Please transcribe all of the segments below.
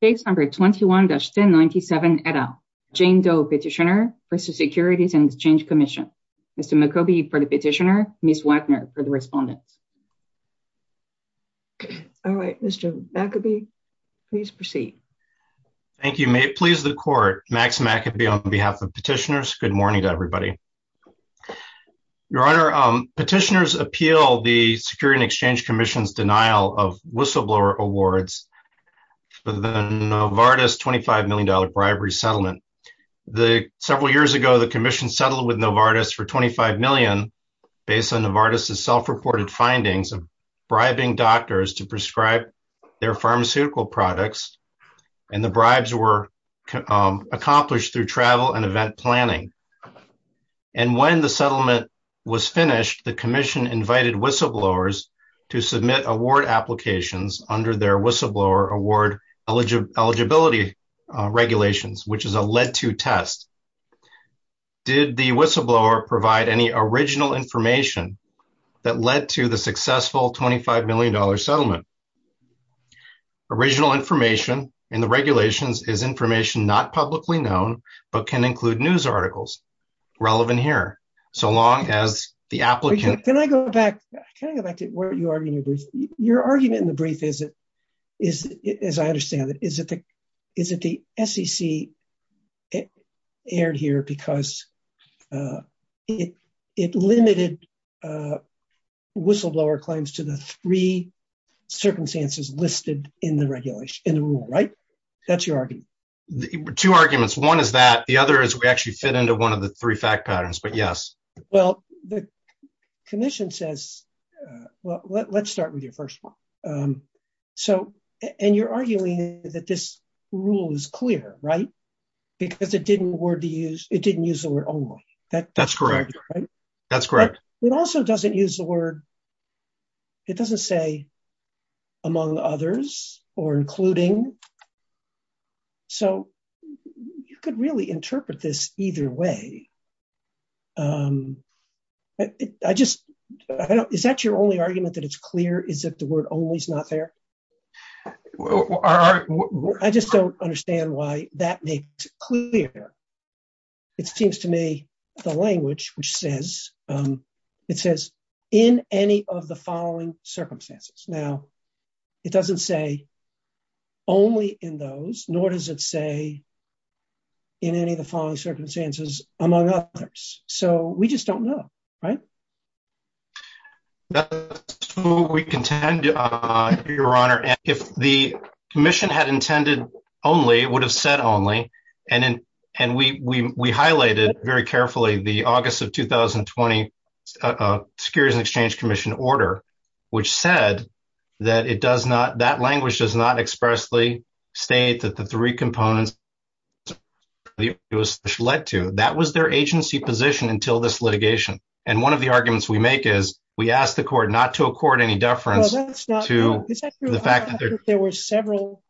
Case number 21-1097, Etta. Jane Doe, Petitioner for the Securities and Exchange Commission. Mr. McCoby for the Petitioner. Ms. Wagner for the Respondent. All right, Mr. McCoby, please proceed. Thank you. May it please the Court, Max McCoby on behalf of Petitioners. Good morning to everybody. Your Honor, Petitioners appeal the Securities and Exchange Commission's denial of whistleblower awards for the Novartis $25 million bribery settlement. Several years ago, the Commission settled with Novartis for $25 million based on Novartis' self-reported findings of bribing doctors to prescribe their pharmaceutical products, and the bribes were accomplished through travel and event planning. And when the settlement was finished, the Commission invited whistleblowers to submit award applications under their whistleblower award eligibility regulations, which is a led-to test. Did the whistleblower provide any original information that led to the successful $25 million settlement? Original information in the regulations is information not publicly known, but can include news articles relevant here. So long as the argument in the brief is, as I understand it, is that the SEC erred here because it limited whistleblower claims to the three circumstances listed in the rule, right? That's your argument. Two arguments. One is that. The other is we actually fit into one of the three patterns, but yes. Well, the Commission says, well, let's start with your first one. So, and you're arguing that this rule is clear, right? Because it didn't use the word only. That's correct. That's correct. It also doesn't use the word, it doesn't say among others or including. So you could really interpret this either way. I just, I don't, is that your only argument that it's clear is that the word only is not there? I just don't understand why that makes it clear. It seems to me the language, which says, it says in any of the following circumstances. Now, it doesn't say only in those, nor does it say in any of the following circumstances among others. So we just don't know, right? That's who we contend, Your Honor. If the Commission had intended only, it would have said only. And we highlighted very carefully the August of 2020 Securities and Exchange Commission order, which said that it does not, that language does not expressly state that the three components it was led to. That was their agency position until this litigation. And one of the arguments we make is we asked the court not to accord any deference to the fact that there were several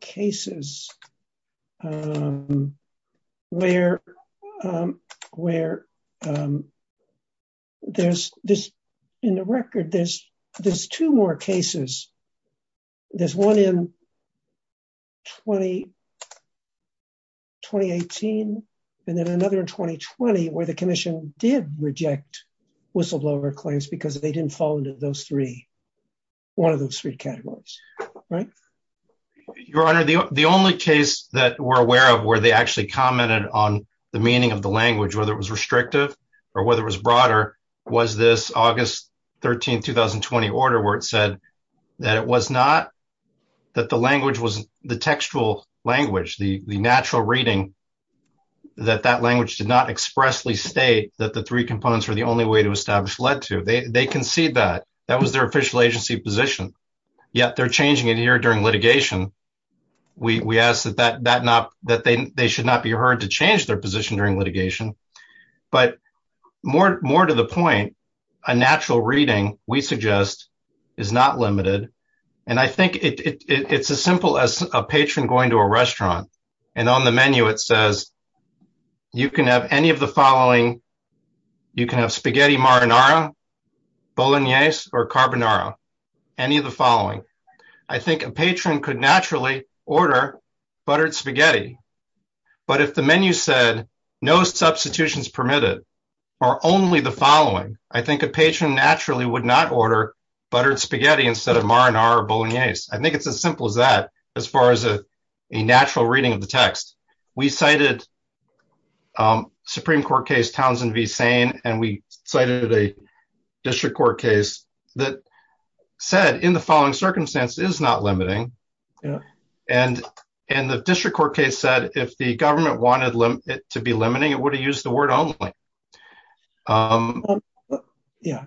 cases where there's this, in the record, there's two more cases. There's one in 2018, and then another in 2020, where the Commission did reject whistleblower claims because they didn't fall into those three, one of those three categories, right? Your Honor, the only case that we're aware of where they actually commented on the meaning of the language, whether it was restrictive or whether it was broader, was this August 13, 2020 order where it said that it was not, that the language was the textual language, the natural reading, that that language did not expressly state that the three components were the only way to establish led to. They concede that. That was their official agency position. Yet they're changing it here during litigation. We ask that that not, that they should not be heard to change their position during litigation. But more to the point, a natural reading, we suggest, is not limited. And I think it's as simple as a patron going to a restaurant, and on the menu it says, you can have any of the following. You can have spaghetti marinara, bolognese, or carbonara, any of the following. I think a patron could naturally order buttered spaghetti. But if the menu said, no substitutions permitted, or only the following, I think a patron naturally would not order buttered spaghetti instead of marinara bolognese. I think it's as simple as that, as far as a natural reading of the text. We cited Supreme Court case Townsend v. Sane, and we cited a district court case that said, in the following circumstance, is not limiting. And the district court case said, if the government wanted it to be limiting, it would have used the word only. Yeah.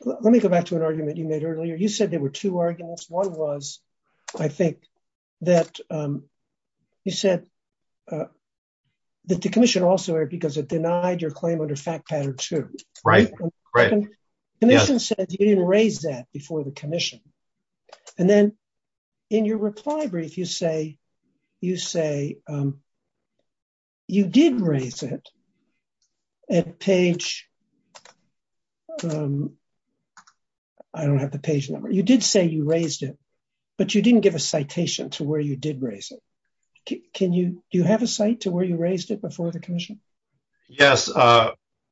Let me go back to an argument you made earlier. You said there were two arguments. One was, I think, that you said that the commission also, because it denied your claim under fact pattern two. Right, right. Commission said you didn't raise that before the commission. And then in your reply brief, you say you did raise it at page, I don't have the page number. You did say you raised it, but you didn't give a citation to where you did raise it. Do you have a site to where you raised it before the commission? Yes,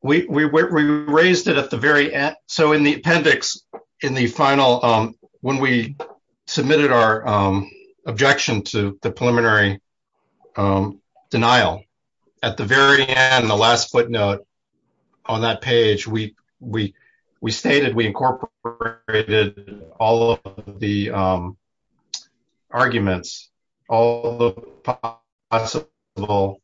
we raised it at the very end. So in the appendix, in the final, when we submitted our objection to the preliminary denial, at the very end, the last footnote on that page, we stated we incorporated all of the arguments, all possible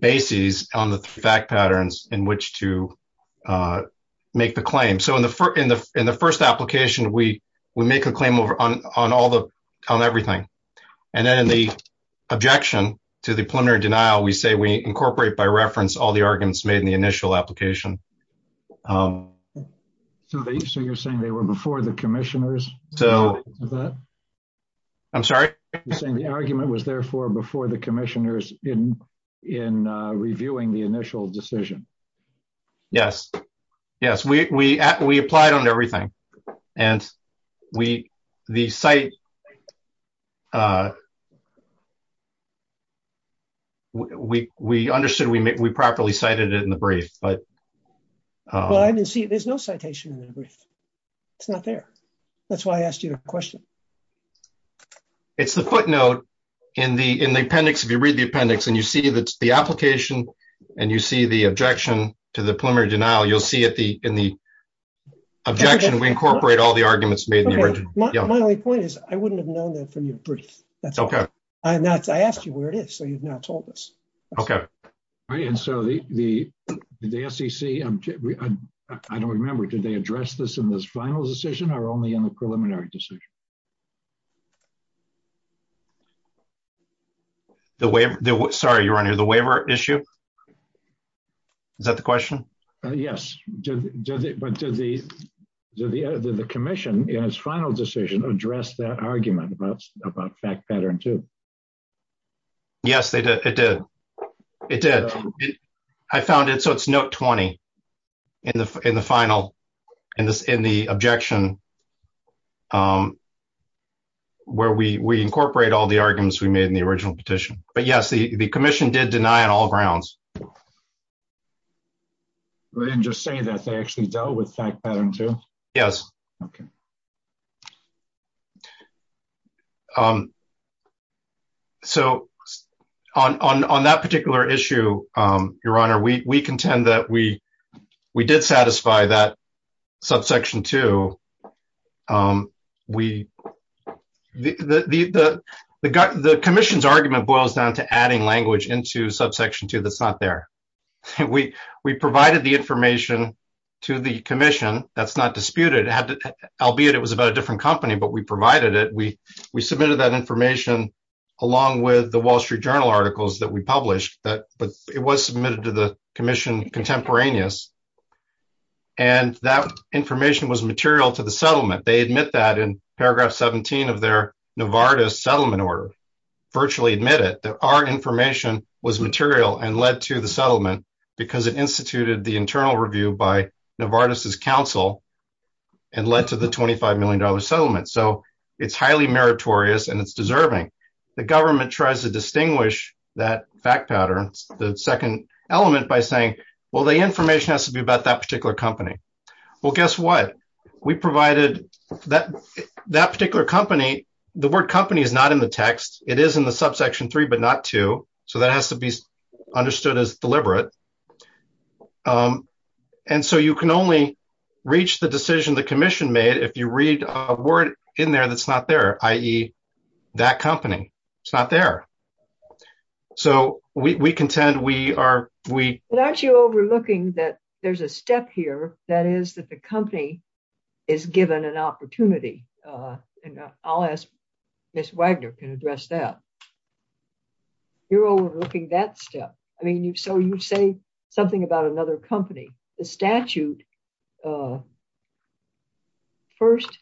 bases on the fact patterns in which to make the claim. So in the first application, we make a claim on everything. And then in the objection to the preliminary denial, we say we incorporate by reference all the arguments made in the initial application. So you're saying they were before the commissioners? I'm sorry? You're saying the argument was therefore before the commissioners in reviewing the initial decision? Yes. Yes. We applied on everything. And we, the site, we understood we properly cited it in the brief, but... Well, I didn't see, there's no citation in the brief. It's not there. That's why I asked you the question. It's the footnote in the appendix, if you read the appendix and you see the application and you see the objection to the preliminary denial, you'll see in the objection, we incorporate all the arguments made. My only point is I wouldn't have known that from your brief. That's all. I asked you where it is, so you've not told us. Okay. And so the SEC, I don't remember, did they address this in this decision or only in the preliminary decision? Sorry, your honor, the waiver issue? Is that the question? Yes. But did the commission in its final decision address that argument about fact pattern two? Yes, it did. It did. I found it. So it's note 20 in the final, in the objection, where we incorporate all the arguments we made in the original petition. But yes, the commission did deny on all grounds. They didn't just say that, they actually dealt with fact pattern two? Yes. Okay. Okay. So on that particular issue, your honor, we contend that we did satisfy that subsection two. The commission's argument boils down to adding language into subsection two that's not there. We provided the information to the commission, that's not disputed, albeit it was about a different company, but we provided it. We submitted that information along with the Wall Street Journal articles that we published, but it was submitted to the commission contemporaneous. And that information was material to the settlement. They admit that in paragraph 17 of their Novartis settlement order, virtually admit it, that our information was material and led to the settlement because it instituted the internal review by Novartis's and led to the $25 million settlement. So it's highly meritorious and it's deserving. The government tries to distinguish that fact pattern, the second element by saying, well, the information has to be about that particular company. Well, guess what? We provided that particular company, the word company is not in the text. It is in the subsection three, but not two. So that has to be understood as deliberate. And so you can only reach the decision the commission made if you read a word in there that's not there, i.e. that company, it's not there. So we contend we are- Well, aren't you overlooking that there's a step here, that is that the company is given an opportunity. And I'll ask Ms. Wagner can address that. You're overlooking that step. I mean, so you say something about another company, the statute first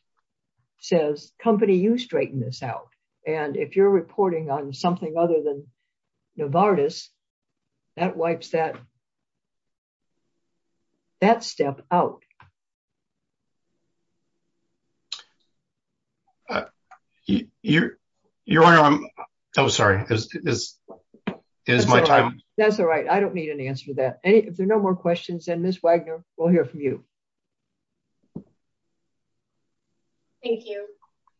says company, you straighten this out. And if you're reporting on something other than Novartis, that wipes that step out. Your honor, I'm sorry. That's all right. I don't need an answer to that. If there are no more questions, then Ms. Wagner, we'll hear from you. Thank you.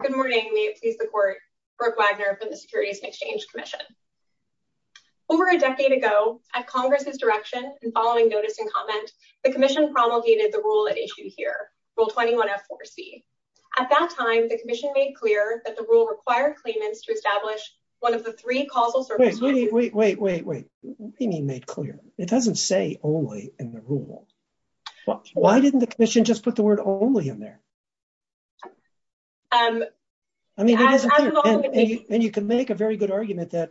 Good morning. May it please the court, Brooke Wagner from the Securities and Exchange Commission. Over a decade ago, at Congress's direction and following notice and comment, the commission promulgated the rule at issue here, rule 21F4C. At that time, the commission made clear that the rule required claimants to establish one of the three causal circumstances- Wait, wait, wait, what do you mean made clear? It doesn't say only in the rule. Why didn't the commission just put the word only in there? And you can make a very good argument that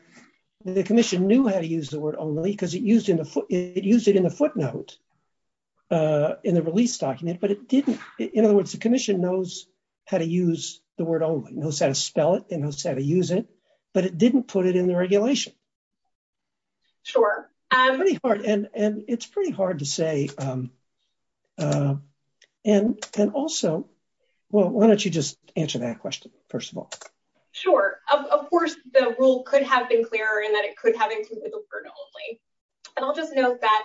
the commission knew how to use the word only because it used it in the footnote in the release document, but it didn't. In other words, the commission knows how to use the word only, knows how to spell it and knows how to use it, but it didn't put it in the regulation. Sure. And it's pretty hard to say. And also, well, why don't you just answer that question, first of all? Sure. Of course, the rule could have been clearer in that it could have included the word only. And I'll just note that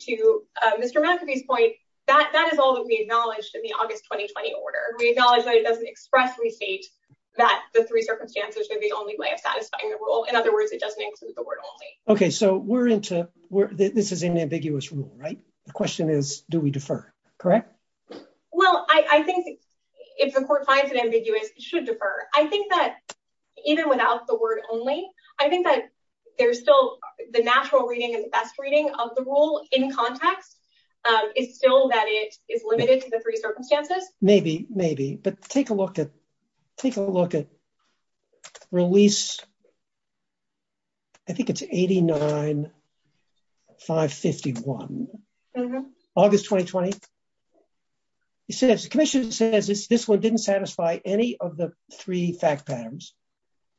to Mr. McAfee's point, that is all that we acknowledged in the August 2020 order. We didn't. Okay. So we're into, this is an ambiguous rule, right? The question is, do we defer? Correct? Well, I think if the court finds it ambiguous, it should defer. I think that even without the word only, I think that there's still the natural reading and the best reading of the rule in context. It's still that it is limited to the three circumstances. Maybe, maybe. But take a look at, take a look at release, I think it's 89-551, August 2020. It says, the commission says this one didn't satisfy any of the three fact patterns.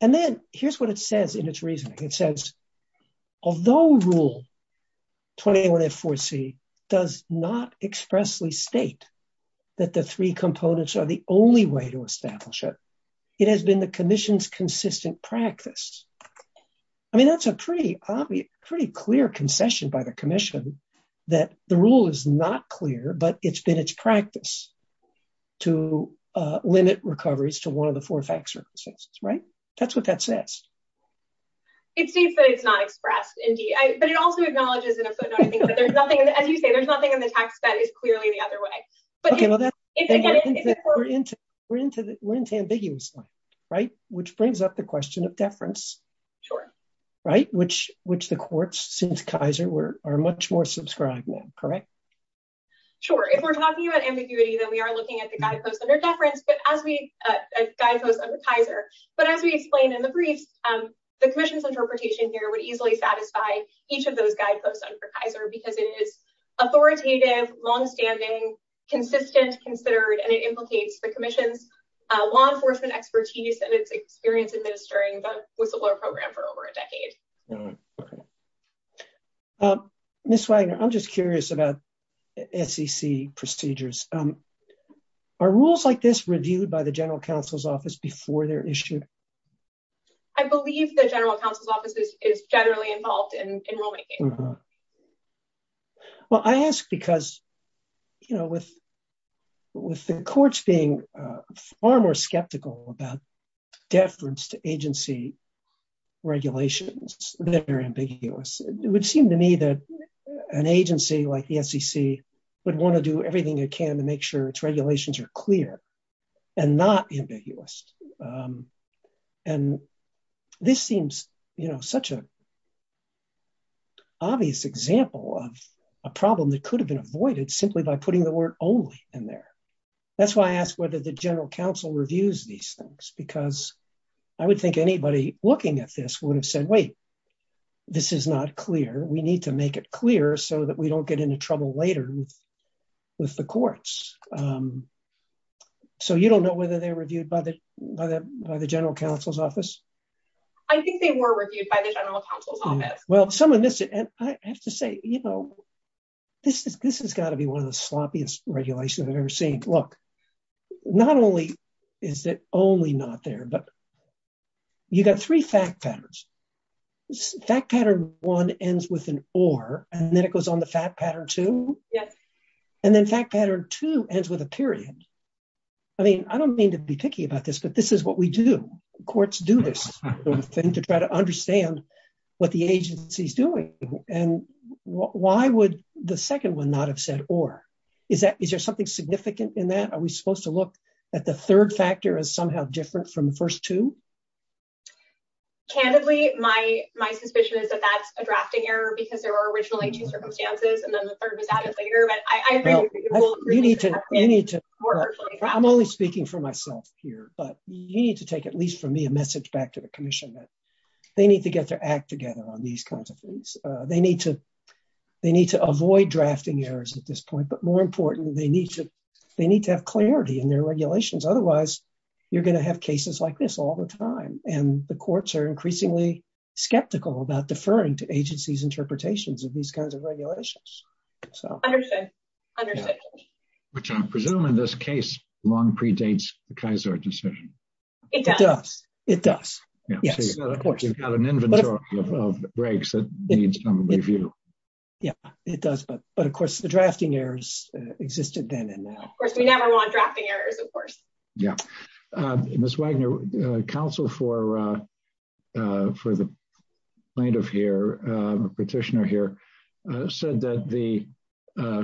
And then here's what it says in its reasoning. It says, although rule 21F4C does not expressly state that the three components are the only way to establish it, it has been the commission's consistent practice. I mean, that's a pretty obvious, pretty clear concession by the commission that the rule is not clear, but it's been its practice to limit recoveries to one of the four facts circumstances, right? That's what that says. It states that it's not expressed, indeed. But it also acknowledges in a footnote, I think that there's nothing, as you say, there's nothing in the text that is clearly the other way. Okay, well that's, we're into, we're into, we're into ambiguously, right? Which brings up the question of deference. Sure. Right? Which, which the courts since Kaiser were, are much more subscribed now, correct? Sure. If we're talking about ambiguity, then we are looking at the guideposts under deference, but as we, guideposts under Kaiser. But as we explained in the briefs, the commission's interpretation here would easily satisfy each of those guideposts under Kaiser because it is authoritative, longstanding, consistent, considered, and it implicates the commission's law enforcement expertise and its experience administering the whistleblower program for over a decade. All right. Okay. Ms. Wagner, I'm just curious about SEC procedures. Are rules like this reviewed by the general counsel's office before they're issued? I believe the general counsel's office is generally involved in rulemaking. Well, I ask because, you know, with, with the courts being far more skeptical about deference to agency regulations, they're ambiguous. It would seem to me that an agency like the SEC would want to do everything it can to make sure its regulations are clear and not ambiguous. And this seems, you know, such an obvious example of a problem that could have been avoided simply by putting the word only in there. That's why I asked whether the general counsel reviews these things, because I would think anybody looking at this would have said, wait, this is not clear. We need to make it clear so that we don't get into trouble later with the courts. So you don't know whether they're reviewed by the, by the, by the general counsel's office? I think they were reviewed by the general counsel's office. Well, someone missed it. And I have to say, you know, this is, this has got to be one of the sloppiest regulations I've ever seen. Look, not only is it only not there, but you got three fact patterns. This fact pattern one ends with an or, and then it goes on the fact pattern two. And then fact pattern two ends with a period. I mean, I don't mean to be picky about this, but this is what we do. Courts do this thing to try to understand what the agency's doing. And why would the second one not have said or? Is that, is there something significant in that? Are we supposed to look at the third factor as somehow different from the first two? Candidly, my, my suspicion is that that's a drafting error because there were originally two circumstances and then the third was added later, but I agree. You need to, I'm only speaking for myself here, but you need to take at least from me a message back to the commission that they need to get their act together on these kinds of things. They need to, they need to avoid drafting errors at this point, but more important, they need to, they need to have clarity in their regulations. Otherwise you're going to have cases like this all the time. And the courts are increasingly skeptical about deferring to agency's interpretations of these kinds of regulations. So I understand, which I'm presuming this case long predates the Kaiser decision. It does. It does. Yes. Of course you've got an inventory of breaks that needs some review. Yeah, it does. But, but of course the drafting errors existed then and now. Of course we never want drafting errors, of course. Yeah. Ms. Wagner, counsel for the plaintiff here, petitioner here, said that the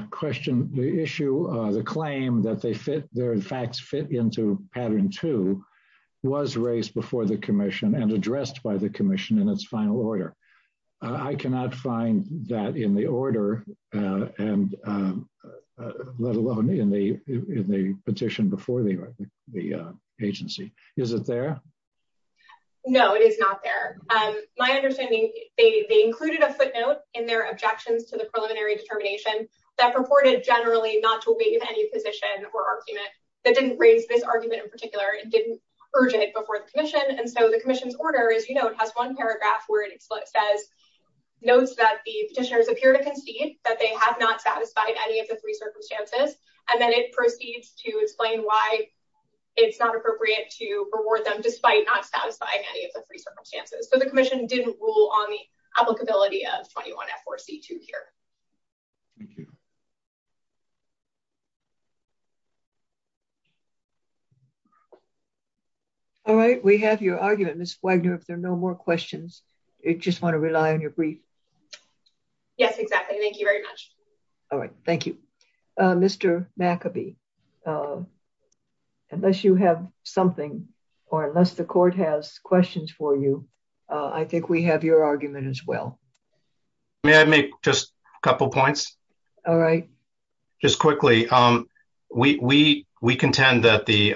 question, the issue, the claim that they fit, their facts fit into pattern two was raised before the commission and addressed by the commission in its final order. I cannot find that in the order and let alone in the petition before the agency. Is it there? No, it is not there. My understanding, they included a footnote in their objections to the preliminary determination that purported generally not to waive any position or argument that didn't raise this argument in particular. It didn't urge it before the commission. And so the commission's order, as you know, it has one paragraph where it says, notes that the petitioners appear to concede that they have not satisfied any of the three circumstances. And then it proceeds to explain why it's not appropriate to reward them despite not satisfying any of the three circumstances. So the commission didn't rule on the applicability of 21F or C2 here. All right. We have your argument. Ms. Wagner, if there are no more questions, I just want to rely on your brief. Yes, exactly. Thank you very much. All right. Thank you. Mr. McAbee, unless you have something or unless the court has questions for you, I think we have your argument as well. May I make just a couple of points? All right. Just quickly, we contend that the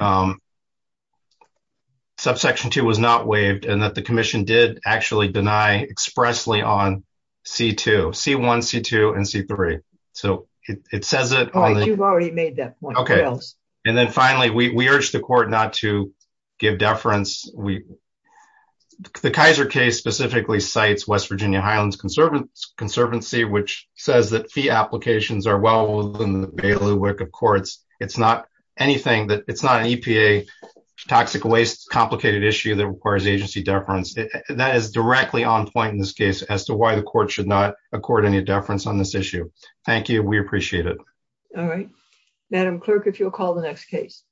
subsection two was not waived and that the commission did actually deny expressly on C2, C1, C2, and C3. So it says it. All right. You've already made that point. Okay. And then finally, we urge the court not to give deference. The Kaiser case specifically cites West Virginia Highlands Conservancy, which says that fee applications are well within the bailiwick of courts. It's not an EPA toxic waste complicated issue that requires agency deference. That is directly on point in this case as to why the court should not accord any deference on this issue. Thank you. We appreciate it. All right. Madam Clerk, if you'll call the next case.